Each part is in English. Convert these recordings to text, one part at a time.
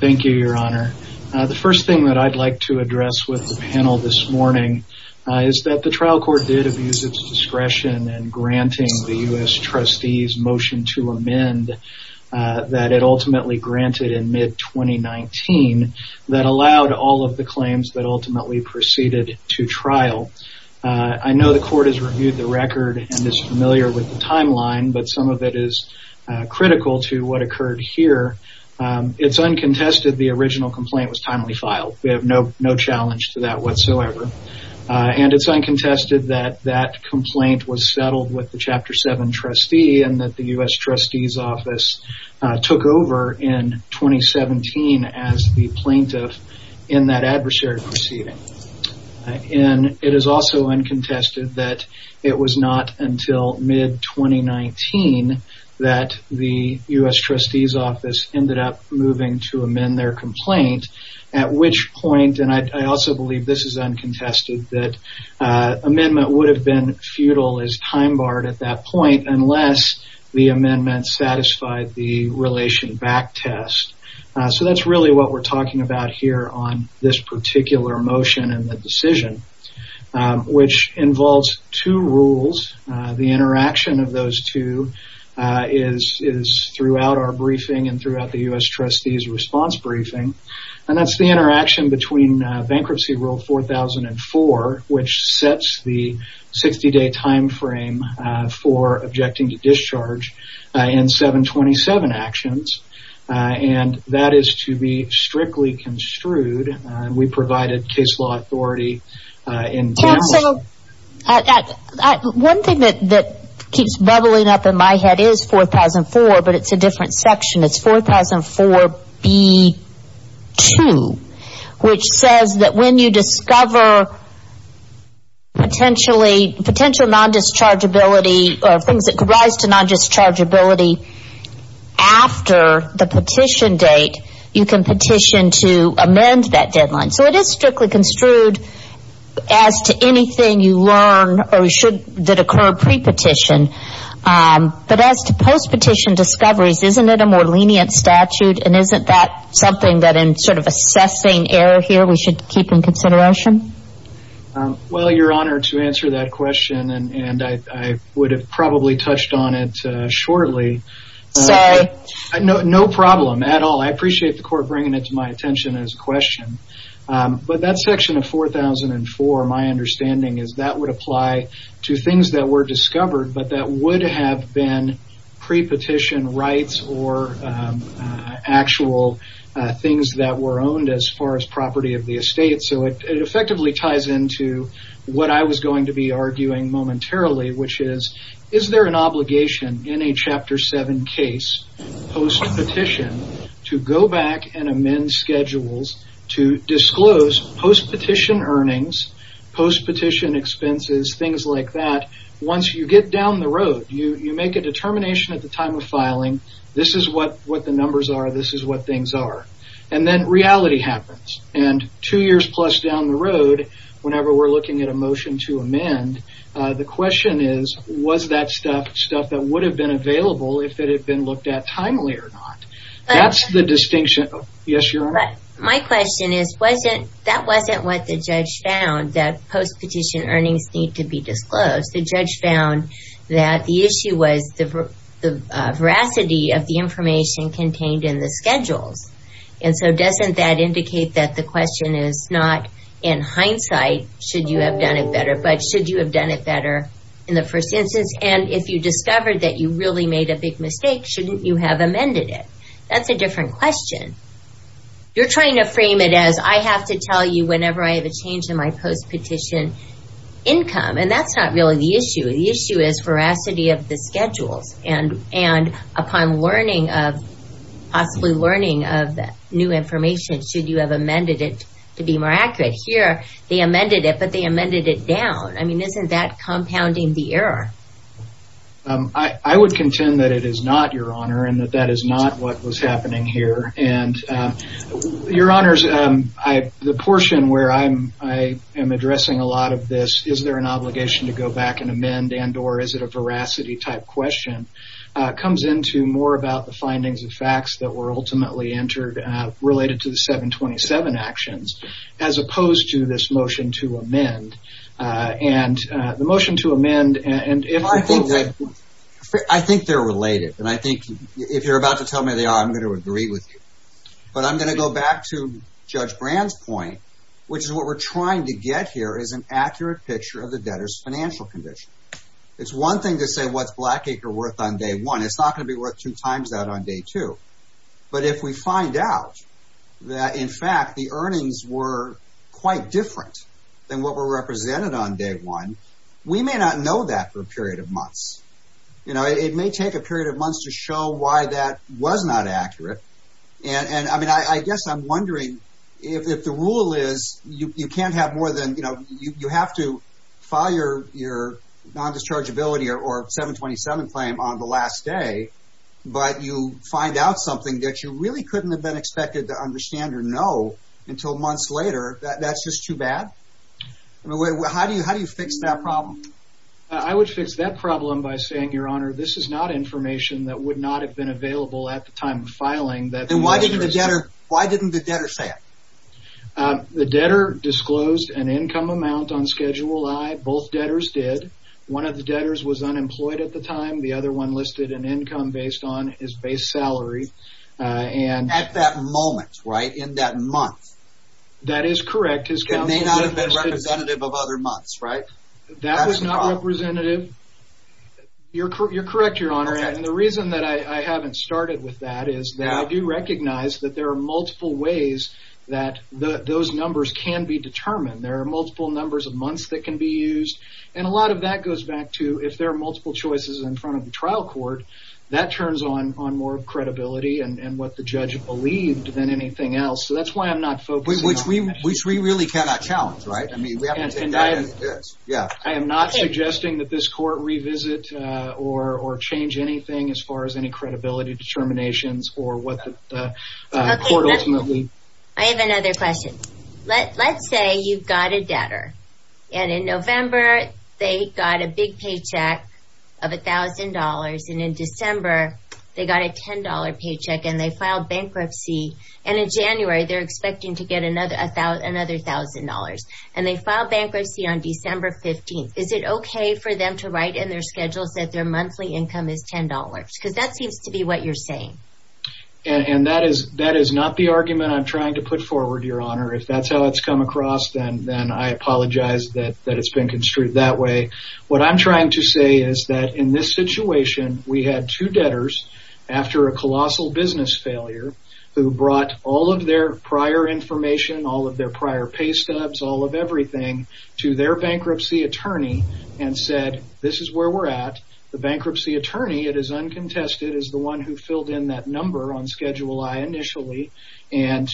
Thank you, Your Honor. The first thing that I'd like to address with the panel this morning is that the trial court did abuse its discretion in granting the U.S. trustees motion to amend that it ultimately granted in mid-2019 that allowed all of the claims that ultimately proceeded to trial. I know the court has reviewed the record and is familiar with the timeline, but some of it is critical to what occurred here. It's uncontested that the original complaint was timely filed. We have no challenge to that whatsoever. And it's uncontested that that complaint was settled with the Chapter 7 trustee and that the U.S. trustees office took over in 2017 as the plaintiff in that adversary proceeding. And it is also uncontested that it was not until mid- 2019 that the U.S. trustees office ended up moving to amend their complaint, at which point, and I also believe this is uncontested, that amendment would have been futile as time barred at that point unless the amendment satisfied the relation back test. So that's really what we're talking about here on this particular motion and the decision, which involves two rules. The interaction of those two is throughout our briefing and throughout the U.S. trustees response briefing. And that's the interaction between bankruptcy rule 4004, which sets the 60-day time frame for objecting to discharge in 727 actions. And that is to be strictly construed. We provided case law authority in my head is 4004, but it's a different section. It's 4004B2, which says that when you discover potentially, potential non-dischargeability or things that could rise to non-dischargeability after the petition date, you can petition to amend that deadline. So it is strictly construed as to anything you learn or should that occur pre-petition But as to post-petition discoveries, isn't it a more lenient statute and isn't that something that in sort of assessing error here we should keep in consideration? Well, you're honored to answer that question and I would have probably touched on it shortly. No problem at all. I appreciate the court bringing it to my attention as a question. But that section of discovered, but that would have been pre-petition rights or actual things that were owned as far as property of the estate. So it effectively ties into what I was going to be arguing momentarily, which is, is there an obligation in a Chapter 7 case post-petition to go back and amend schedules to disclose post-petition earnings, post-petition expenses, things like that. Once you get down the road, you make a determination at the time of filing. This is what the numbers are. This is what things are. And then reality happens and two years plus down the road whenever we're looking at a motion to amend, the question is, was that stuff stuff that would have been available if it had been looked at timely or not? That's the distinction. Yes, you're right. My question is, wasn't that wasn't what the judge found that post-petition earnings need to be disclosed. The judge found that the issue was the veracity of the information contained in the schedules. And so doesn't that indicate that the question is not in hindsight, should you have done it better? But should you have done it better in the first instance? And if you discovered that you really made a big mistake, shouldn't you have amended it? That's a different question. You're trying to frame it as I have to tell you whenever I have a change in my post-petition income. And that's not really the issue. The issue is veracity of the schedules. And upon learning of, possibly learning of new information, should you have amended it to be more accurate? Here, they amended it, but they amended it down. I mean, isn't that compounding the error? I would contend that it is not, Your Honor, and that that is not what was happening here. And Your Honors, I, the portion where I'm, I am addressing a lot of this, is there an obligation to go back and amend and or is it a veracity type question? Comes into more about the findings of facts that were ultimately entered related to the 727 actions, as opposed to this motion to amend. And the motion to amend and if I think that I think they're related and I think if you're about to tell me they are, I'm going to agree with you. But I'm going to go back to Judge Brand's point, which is what we're trying to get here is an accurate picture of the debtor's financial condition. It's one thing to say what's Blackacre worth on day one. It's not going to be worth two times that on day two. But if we find out that, in fact, the earnings were quite different than what were represented on day one, we may not know that for a period of months. You know, it may take a period of months to show why that was not accurate. And I mean, I guess I'm wondering if the rule is you can't have more than, you know, you have to file your your non-dischargeability or 727 claim on the last day. But you find out something that you really couldn't have been expected to understand or know until months later that that's just too bad. How do you how do you fix that problem? I would fix that problem by saying, Your Honor, this is not information that would not have been available at the time of filing that... And why didn't the debtor say it? The debtor disclosed an income amount on Schedule I. Both debtors did. One of the debtors was unemployed at the time. The other one listed an income based on his base salary. At that moment, right? In that month? That is correct. It may not have been representative of other months, right? That was not representative. You're correct, Your Honor, and the reason that I haven't started with that is that I do recognize that there are multiple ways that those numbers can be determined. There are multiple numbers of months that can be used. And a lot of that goes back to if there are multiple choices in front of the trial court, that turns on more credibility and what the judge believed than anything else. So that's why I'm not focusing on that. Which we really cannot challenge, right? I mean, we have to take that into consideration. Yeah, I am not suggesting that this court revisit or change anything as far as any credibility determinations or what the court ultimately... I have another question. Let's say you've got a debtor, and in November, they got a big paycheck of $1,000. And in December, they got a $10 paycheck, and they filed bankruptcy. And in January, they're expecting to get another $1,000. And they filed bankruptcy on December 15th. Is it okay for them to write in their schedules that their monthly income is $10? Because that seems to be what you're saying. And that is not the argument I'm trying to put forward, Your Honor. If that's how it's come across, then I apologize that it's been construed that way. What I'm trying to say is that in this situation, we had two debtors after a colossal business failure who brought all of their prior information, all of their prior pay stubs, all of everything to their bankruptcy attorney and said, This is where we're at. The bankruptcy attorney, it is uncontested, is the one who filled in that number on Schedule I initially. And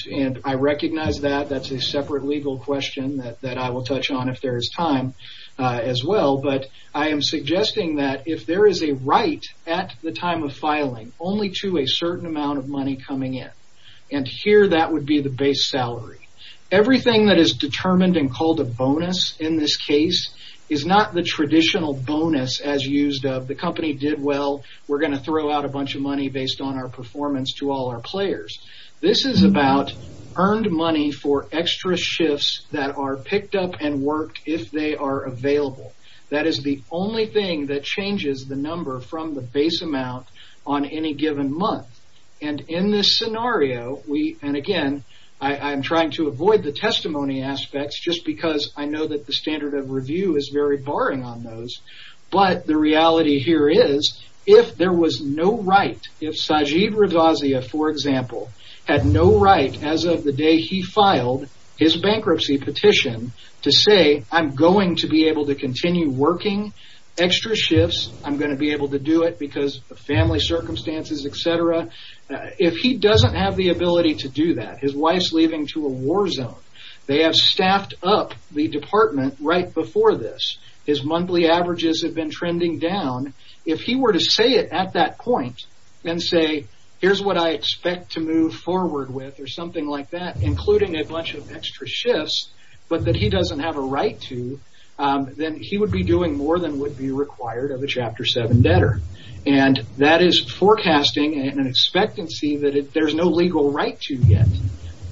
I recognize that. That's a separate legal question that I will touch on if there is time as well. But I am suggesting that if there is a right at the time of filing only to a certain amount of money coming in, and here that would be the base salary, everything that is determined and called a bonus in this case is not the traditional bonus as used of the company did well. We're going to throw out a bunch of money based on our performance to all our players. This is about earned money for extra shifts that are picked up and worked if they are available. That is the only thing that changes the number from the base amount on any given month. And in this scenario, and again, I'm trying to avoid the testimony aspects just because I know that the standard of review is very barring on those. But the reality here is if there was no right, if Sajid Ravazia, for example, had no right as of the day he filed his bankruptcy petition to say I'm going to be able to continue working extra shifts, I'm going to be able to do it because of family circumstances, etc. If he doesn't have the ability to do that, his wife is leaving to a war zone, they have staffed up the department right before this, his monthly averages have been trending down. If he were to say it at that point and say here's what I expect to move forward with or something like that, including a bunch of extra shifts, but that he doesn't have a right to, then he would be doing more than would be required of a Chapter 7 debtor. And that is forecasting an expectancy that there's no legal right to yet.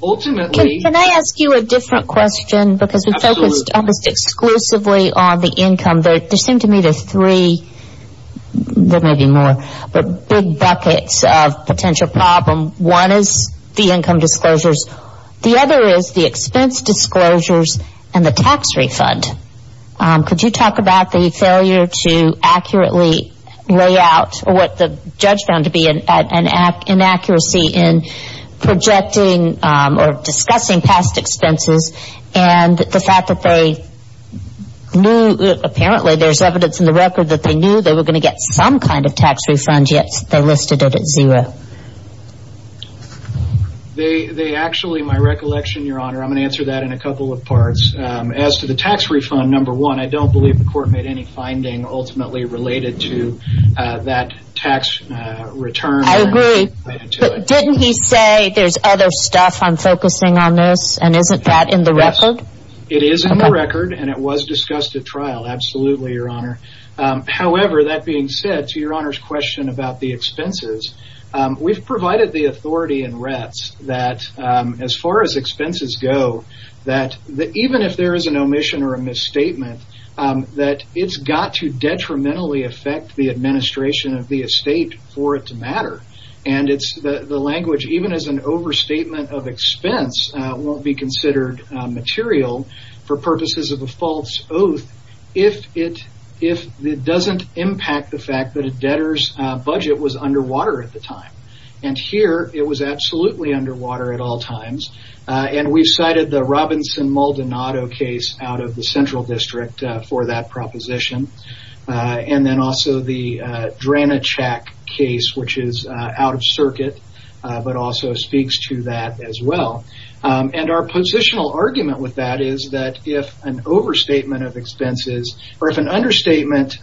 Can I ask you a different question? Because we focused exclusively on the income. There seem to be three big buckets of potential problem. One is the income disclosures, the other is the expense disclosures and the tax refund. Could you talk about the failure to accurately lay out what the judge found to be an inaccuracy in projecting or discussing past expenses and the fact that they knew, apparently there's evidence in the record that they knew they were going to get some kind of tax refund, yet they listed it at zero. They actually, my recollection, your honor, I'm going to answer that in a couple of parts. As to the tax refund, number one, I don't believe the court made any finding ultimately related to that tax return. Didn't he say there's other stuff on focusing on this and isn't that in the record? It is in the record and it was discussed at trial. Absolutely, your honor. However, that being said, to your honor's question about the expenses, we've provided the authority in RETS that as far as expenses go, that even if there is an omission or a misstatement, that it's got to detrimentally affect the administration of the estate for it to matter. The language, even as an overstatement of expense, won't be considered material for purposes of a false oath if it doesn't impact the fact that a debtor's budget was underwater at the time. Here, it was absolutely underwater at all times. We've cited the Robinson-Maldonado case out of the Central District for that proposition. Then also the Dranachak case, which is out of circuit, but also speaks to that as well. Our positional argument with that is that if an overstatement of expenses, or if an understatement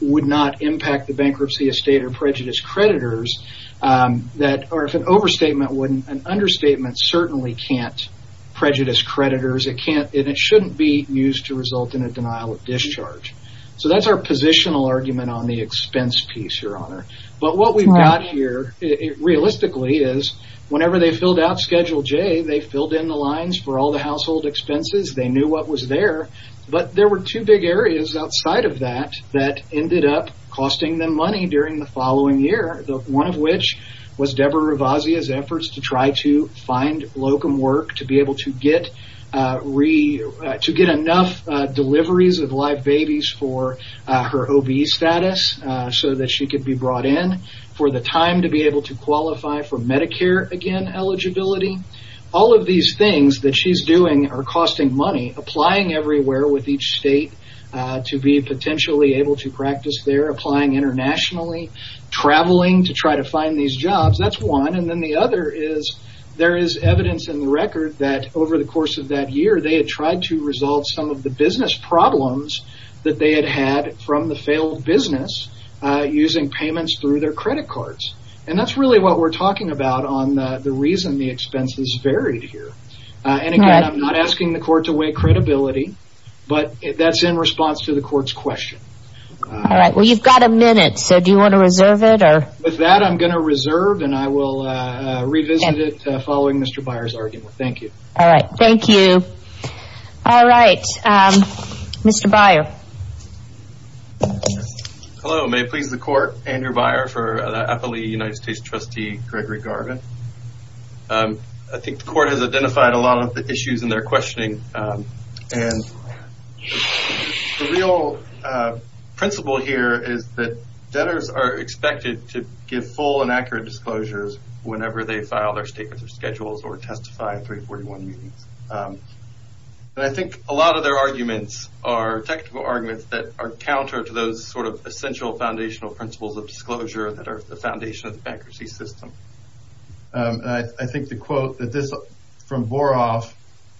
would not impact the bankruptcy of state or prejudice creditors, or if an overstatement wouldn't, an understatement certainly can't prejudice creditors. It shouldn't be used to result in a denial of discharge. So that's our positional argument on the expense piece, your honor. But what we've got here, realistically, is whenever they filled out Schedule J, they filled in the lines for all the household expenses. They knew what was there, but there were two big areas outside of that, that ended up costing them money during the following year. One of which was Deborah Rovazia's efforts to try to find locum work to be able to get enough deliveries of live babies for her OB status, so that she could be brought in, for the time to be able to qualify for Medicare, again, eligibility. All of these things that she's doing are costing money, applying everywhere with each state to be potentially able to practice there, internationally, traveling to try to find these jobs. That's one. And then the other is, there is evidence in the record that over the course of that year, they had tried to resolve some of the business problems that they had had from the failed business using payments through their credit cards. And that's really what we're talking about on the reason the expenses varied here. And again, I'm not asking the court to weigh credibility, but that's in response to the court's question. All right. Well, you've got a minute. So do you want to reserve it or? With that, I'm going to reserve and I will revisit it following Mr. Byer's argument. Thank you. All right. Thank you. All right. Mr. Byer. Hello, may it please the court. Andrew Byer for the Appalachian United States trustee, Gregory Garvin. I think the court has identified a lot of the issues in their questioning. And the real principle here is that debtors are expected to give full and accurate disclosures whenever they file their statements or schedules or testify in 341 meetings. And I think a lot of their arguments are technical arguments that are counter to those sort of essential foundational principles of disclosure that are the foundation of the bankruptcy system. And I think the quote that this from Boroff,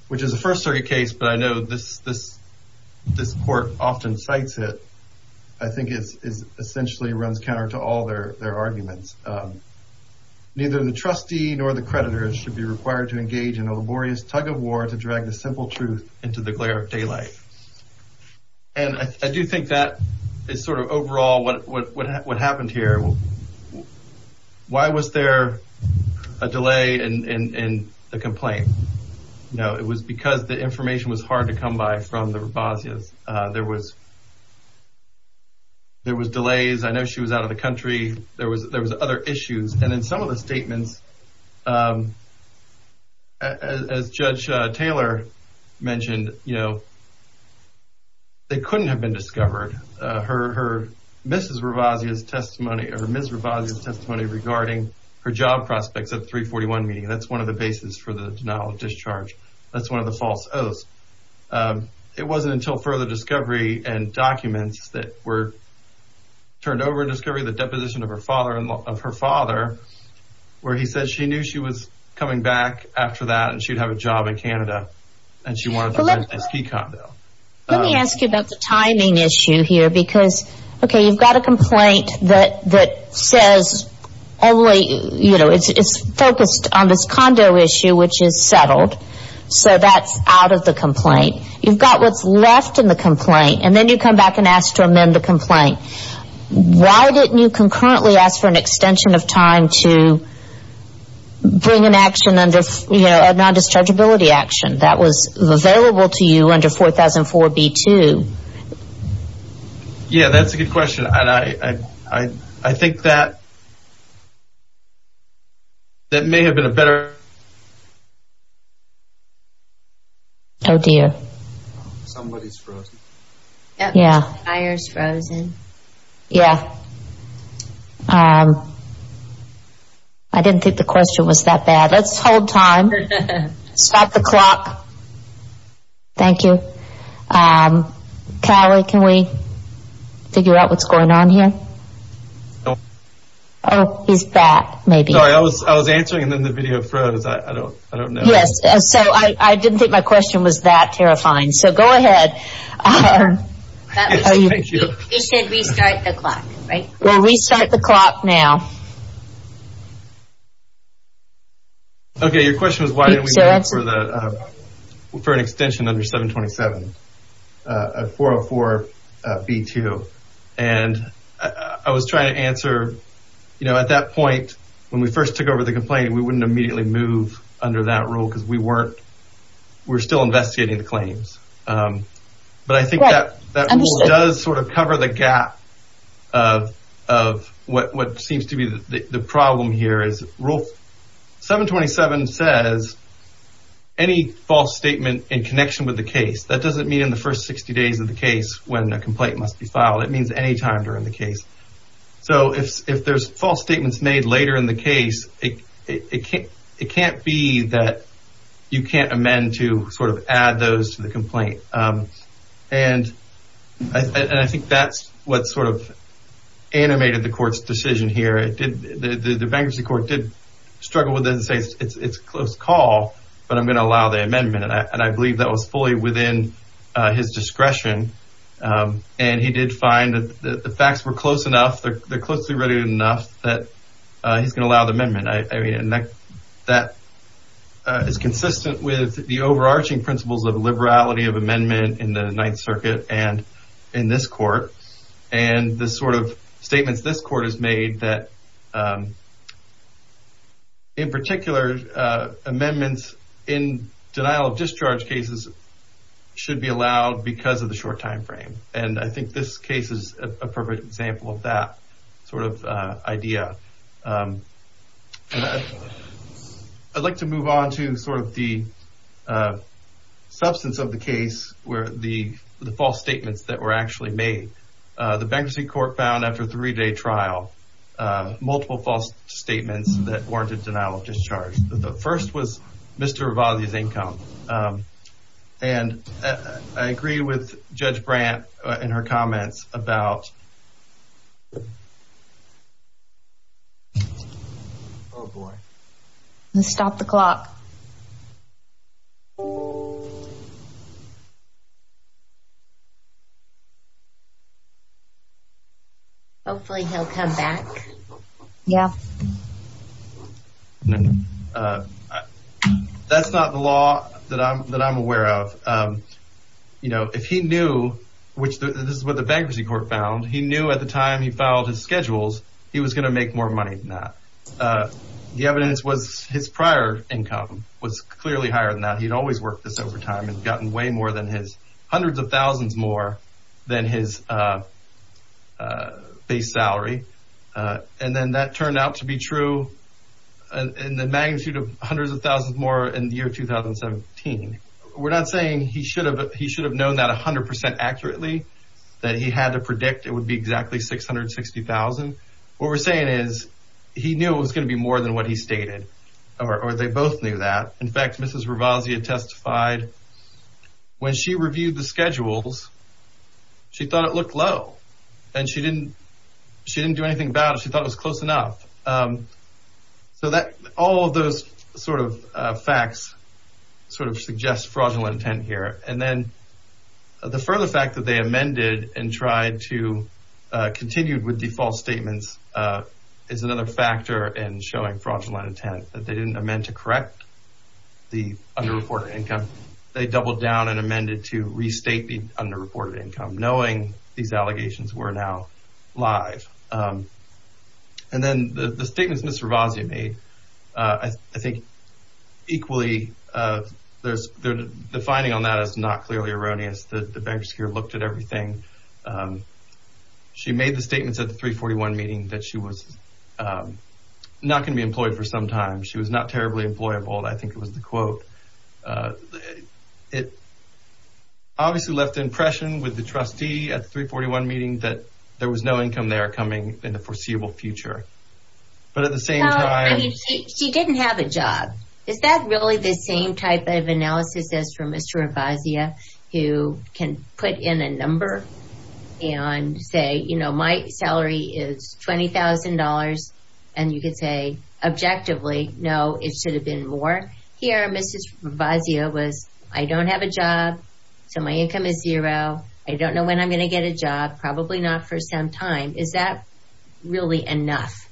which is a first circuit case, but I know this court often cites it, I think is essentially runs counter to all their arguments. Neither the trustee nor the creditor should be required to engage in a laborious tug of war to drag the simple truth into the glare of daylight. And I do think that is sort of overall what happened here. Well, why was there a delay in the complaint? No, it was because the information was hard to come by from the Rabazia's. There was delays. I know she was out of the country. There was other issues. And in some of the statements, as Judge Taylor mentioned, you know, they couldn't have been discovered. Her Mrs. Rabazia's testimony or Ms. Rabazia's testimony regarding her job prospects at 341 meeting, that's one of the basis for the denial of discharge. That's one of the false oaths. It wasn't until further discovery and documents that were turned over in discovery, the deposition of her father and of her father, where he said she knew she was coming back after that and she'd have a job in Canada and she wanted to rent a ski condo. Let me ask you about the timing issue here. Because, okay, you've got a complaint that says only, you know, it's focused on this condo issue, which is settled. So that's out of the complaint. You've got what's left in the complaint. And then you come back and ask to amend the complaint. Why didn't you concurrently ask for an extension of time to bring an action under, you know, a non-dischargeability action? That was available to you under 4004 B-2. Yeah, that's a good question. And I think that may have been a better... Oh, dear. Somebody's frozen. Yeah. Fire's frozen. Yeah. I didn't think the question was that bad. Let's hold time. Stop the clock. Thank you. Callie, can we figure out what's going on here? Oh, he's back, maybe. Sorry, I was answering and then the video froze. I don't know. Yes. So I didn't think my question was that terrifying. So go ahead. You said restart the clock, right? We'll restart the clock now. Okay, your question was, why didn't we wait for an extension under 727, 404 B-2? And I was trying to answer, you know, at that point, when we first took over the complaint, we wouldn't immediately move under that rule because we weren't... We're still investigating the claims. But I think that does sort of cover the gap of what seems to be the case. The problem here is rule 727 says any false statement in connection with the case, that doesn't mean in the first 60 days of the case when the complaint must be filed. It means any time during the case. So if there's false statements made later in the case, it can't be that you can't amend to sort of add those to the complaint. And I think that's what sort of animated the court's decision here. The bankruptcy court did struggle with it and say, it's a close call, but I'm going to allow the amendment. And I believe that was fully within his discretion. And he did find that the facts were close enough, they're closely related enough that he's going to allow the amendment. I mean, that is consistent with the overarching principles of liberality of amendment in the Ninth Circuit and in this court. And the sort of statements this court has made that in particular amendments in denial of discharge cases should be allowed because of the short time frame. And I think this case is a perfect example of that sort of idea. I'd like to move on to sort of the substance of the case where the false statements that were actually made. The bankruptcy court found after a three-day trial, multiple false statements that warranted denial of discharge. The first was Mr. Ravazzi's income. And I agree with Judge Brandt in her comments about... Oh boy. Stop the clock. Hopefully, he'll come back. Yeah. That's not the law that I'm aware of. You know, if he knew, which this is what the bankruptcy court found, he knew at the time he filed his schedules, he was going to make more money than that. The evidence was his prior income was clearly higher than that. He'd always worked this over time and gotten way more than his hundreds of thousands more than his base salary. And then that turned out to be true in the magnitude of hundreds of thousands more in the year 2017. We're not saying he should have known that 100% accurately, that he had to predict it would be exactly $660,000. What we're saying is he knew it was going to be more than what he stated, or they both knew that. In fact, Mrs. Ravazzi had testified when she reviewed the schedules, she thought it looked low. And she didn't do anything about it. She thought it was close enough. So all of those sort of facts sort of suggest fraudulent intent here. And then the further fact that they amended and tried to continue with the false statements is another factor in showing fraudulent intent, that they didn't amend to correct the underreported income. They doubled down and amended to restate the underreported income, knowing these allegations were now live. And then the statements Mrs. Ravazzi made, I think equally, the finding on that is not clearly erroneous. The bankers here looked at everything. She made the statements at the 341 meeting that she was not going to be employed for some time. She was not terribly employable. I think it was the quote. It obviously left the impression with the trustee at the 341 meeting that there was no income there coming in the foreseeable future. But at the same time... I mean, she didn't have a job. Is that really the same type of analysis as for Mr. Ravazzi who can put in a number and say, you know, my salary is $20,000. And you could say objectively, no, it should have been more. Here, Mrs. Ravazzi was, I don't have a job. So my income is zero. I don't know when I'm going to get a job. Probably not for some time. Is that really enough?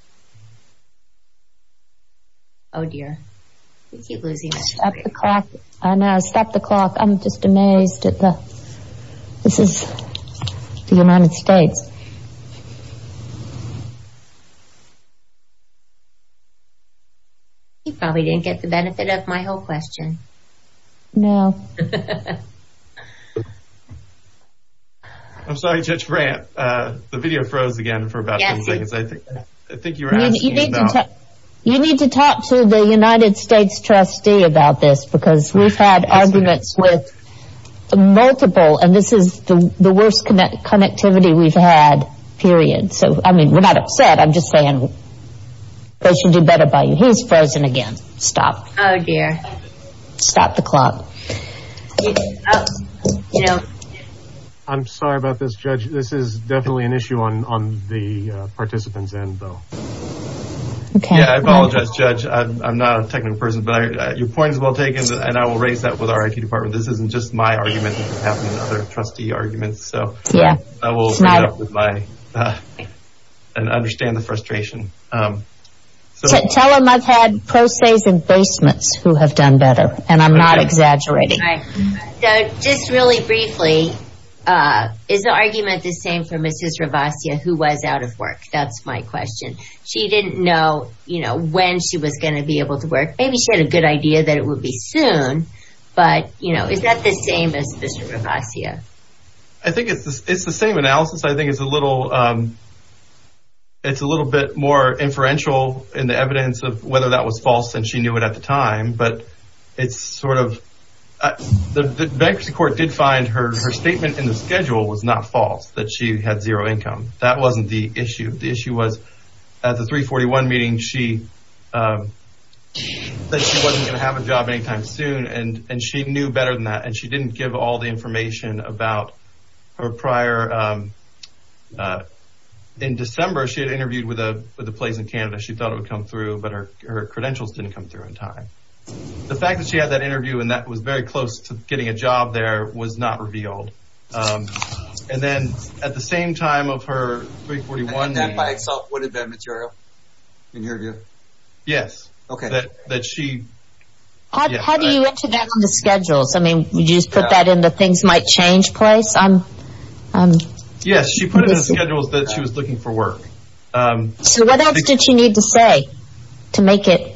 Oh, dear. We keep losing it. Stop the clock. I know, stop the clock. I'm just amazed at the... This is the United States. You probably didn't get the benefit of my whole question. No. I'm sorry, Judge Brandt. The video froze again for about 10 seconds. I think you were asking about... You need to talk to the United States trustee about this because we've had arguments with multiple... And this is the worst connectivity we've had, period. So, I mean, we're not upset. I'm just saying they should do better by you. He's frozen again. Stop. Oh, dear. Stop the clock. I'm sorry about this, Judge. This is definitely an issue on the participant's end, though. Yeah, I apologize, Judge. I'm not a technical person, but your point is well taken. And I will raise that with our IT department. This isn't just my argument. It could happen in other trustee arguments. So, I will read up with my... And understand the frustration. Tell them I've had pro se's and basements who have done better. And I'm not exaggerating. Right. Just really briefly, is the argument the same for Mrs. Ravasia who was out of work? That's my question. She didn't know when she was going to be able to work. Maybe she had a good idea that it would be soon. But is that the same as Mr. Ravasia? I think it's the same analysis. I think it's a little bit more inferential in the evidence of whether that was false than she knew it at the time. But it's sort of... The bankruptcy court did find her statement in the schedule was not false. That she had zero income. That wasn't the issue. The issue was at the 341 meeting, she... That she wasn't going to have a job anytime soon. And she knew better than that. She didn't give all the information about her prior... In December, she had interviewed with a place in Canada. She thought it would come through. But her credentials didn't come through in time. The fact that she had that interview and that was very close to getting a job there was not revealed. And then at the same time of her 341... And that by itself would have been material in your view? Yes. Okay. That she... How do you enter that on the schedule? You just put that in the things might change place? Yes. She put it in schedules that she was looking for work. So what else did she need to say to make it...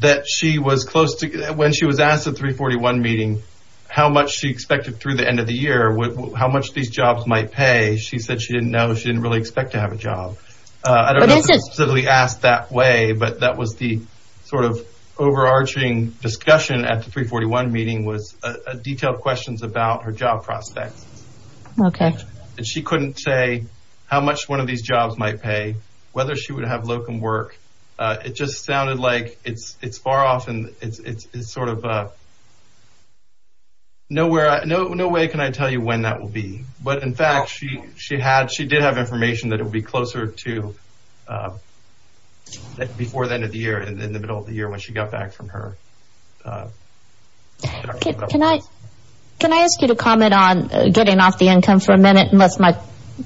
That she was close to... When she was asked at 341 meeting how much she expected through the end of the year, how much these jobs might pay, she said she didn't know. She didn't really expect to have a job. I don't know if it was specifically asked that way. But that was the sort of overarching discussion at the 341 meeting was detailed questions about her job prospects. Okay. And she couldn't say how much one of these jobs might pay, whether she would have locum work. It just sounded like it's far off and it's sort of... No way can I tell you when that will be. But in fact, she did have information that it would be closer to... In the middle of the year when she got back from her... Can I ask you to comment on getting off the income for a minute? Do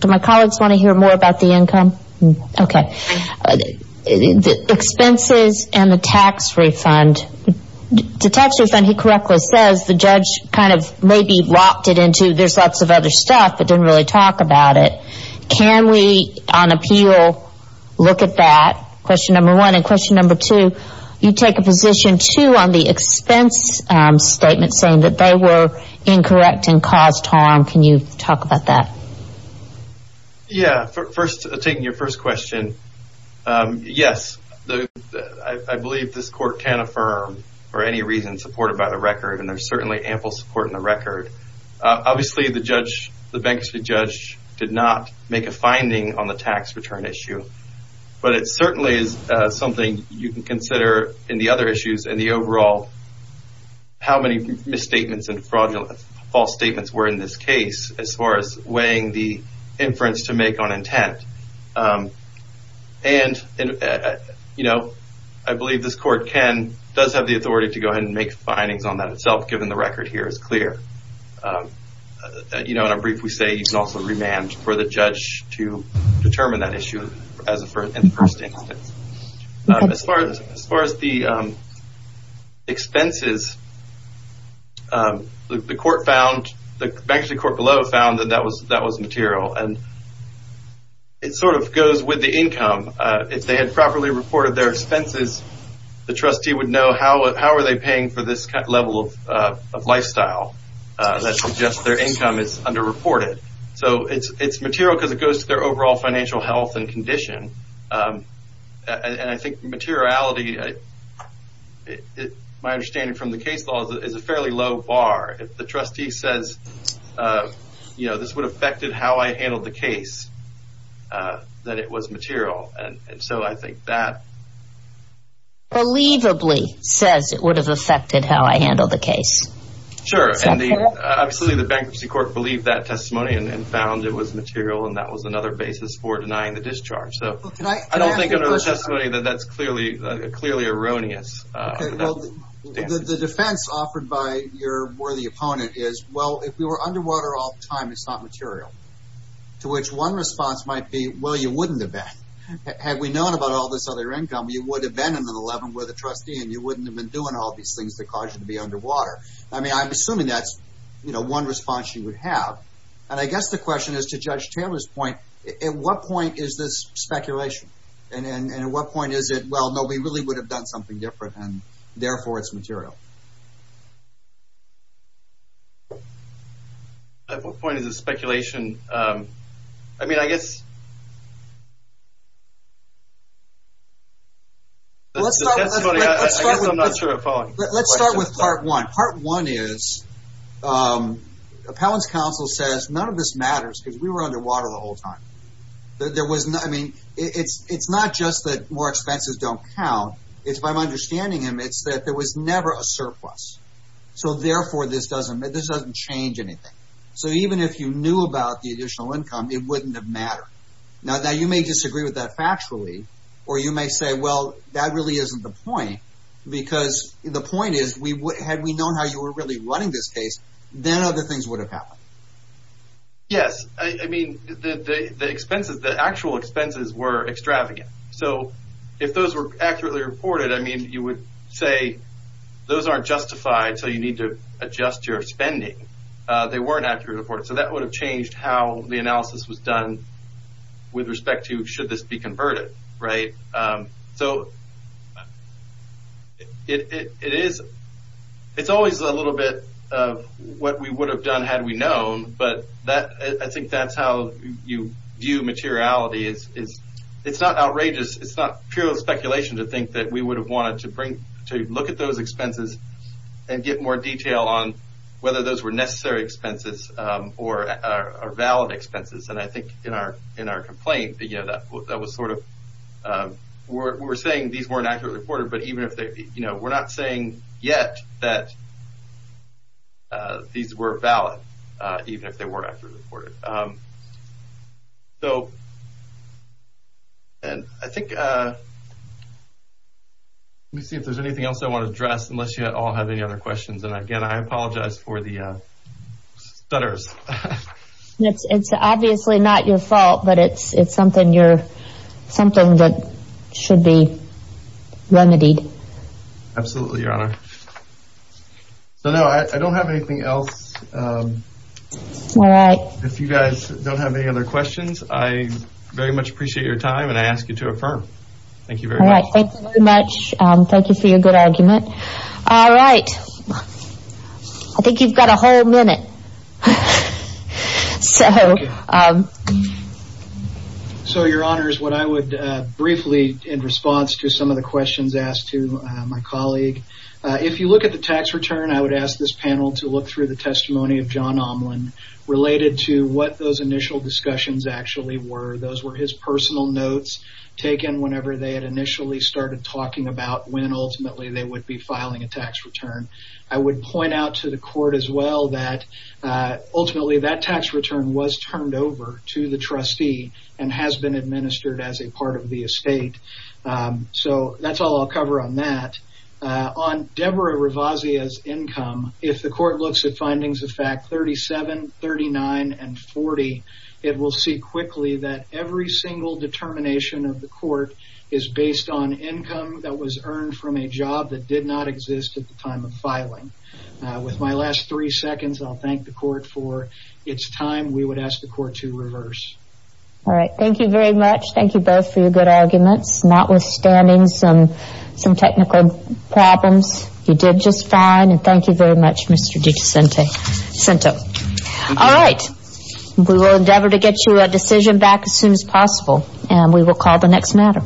my colleagues want to hear more about the income? Okay. Expenses and the tax refund. The tax refund, he correctly says the judge kind of maybe locked it into... There's lots of other stuff, but didn't really talk about it. Can we on appeal look at that? Question number one. And question number two, you take a position too on the expense statement saying that they were incorrect and caused harm. Can you talk about that? Yeah. First, taking your first question. Yes, I believe this court can affirm for any reason supported by the record. And there's certainly ample support in the record. Obviously, the judge, the bankruptcy judge did not make a finding on the tax return issue. But it certainly is something you can consider in the other issues and the overall... How many misstatements and fraudulent false statements were in this case as far as weighing the inference to make on intent. I believe this court can, does have the authority to go ahead and make findings on that itself, given the record here is clear. And I'll briefly say you can also remand for the judge to determine that issue as a first instance. As far as the expenses, the court found, the bankruptcy court below found that that was material. And it sort of goes with the income. If they had properly reported their expenses, the trustee would know how are they paying for this level of lifestyle. That suggests their income is underreported. So it's material because it goes to their overall financial health and condition. And I think materiality, my understanding from the case law is a fairly low bar. If the trustee says, you know, this would have affected how I handled the case, that it was material. And so I think that... Believably says it would have affected how I handled the case. Sure. Obviously the bankruptcy court believed that testimony and found it was material. And that was another basis for denying the discharge. So I don't think under the testimony that that's clearly erroneous. The defense offered by your worthy opponent is, well, if we were underwater all the time, it's not material. To which one response might be, well, you wouldn't have been. Had we known about all this other income, you would have been in an 11 with a trustee and you wouldn't have been doing all these things that cause you to be underwater. I'm assuming that's one response you would have. And I guess the question is, to Judge Taylor's point, at what point is this speculation? And at what point is it, well, no, we really would have done something different and therefore it's material. At what point is it speculation? I mean, I guess... Let's start with part one. Part one is, Appellant's counsel says, none of this matters because we were underwater the whole time. It's not just that more expenses don't count. It's, if I'm understanding him, it's that there was never a surplus. So therefore, this doesn't change anything. So even if you knew about the additional income, it wouldn't have mattered. Now, you may disagree with that factually, or you may say, well, that really isn't the point. Because the point is, had we known how you were really running this case, then other things would have happened. Yes, I mean, the actual expenses were extravagant. So if those were accurately reported, I mean, you would say, those aren't justified, so you need to adjust your spending. They weren't accurately reported. So that would have changed how the analysis was done with respect to, should this be converted, right? So it's always a little bit of what we would have done had we known. But I think that's how you view materiality. It's not outrageous. It's not pure speculation to think that we would have wanted to look at those expenses and get more detail on whether those were necessary expenses or valid expenses. And I think in our complaint, that was sort of, we're saying these weren't accurately reported, but even if they, we're not saying yet that these were valid, even if they weren't accurately reported. And I think, let me see if there's anything else I want to address, unless you all have any other questions. And again, I apologize for the stutters. It's obviously not your fault, but it's something that should be remedied. Absolutely, Your Honor. So no, I don't have anything else. All right. If you guys don't have any other questions, I very much appreciate your time and I ask you to affirm. Thank you very much. All right, thank you very much. Thank you for your good argument. All right. I think you've got a whole minute. So. So, Your Honor, is what I would briefly, in response to some of the questions asked to my colleague. If you look at the tax return, I would ask this panel to look through the testimony of John Omland related to what those initial discussions actually were. Those were his personal notes taken whenever they had initially started talking about when ultimately they would be filing a tax return. I would point out to the court as well that ultimately that tax return was turned over to the trustee and has been administered as a part of the estate. So that's all I'll cover on that. On Deborah Revazia's income, if the court looks at findings of fact 37, 39, and 40, it will see quickly that every single determination of the court is based on income that was earned from a job that did not exist at the time of filing. With my last three seconds, I'll thank the court for its time. We would ask the court to reverse. All right. Thank you very much. Thank you both for your good arguments, notwithstanding some technical problems. You did just fine. And thank you very much, Mr. Dicicento. All right. We will endeavor to get you a decision back as soon as possible. And we will call the next matter.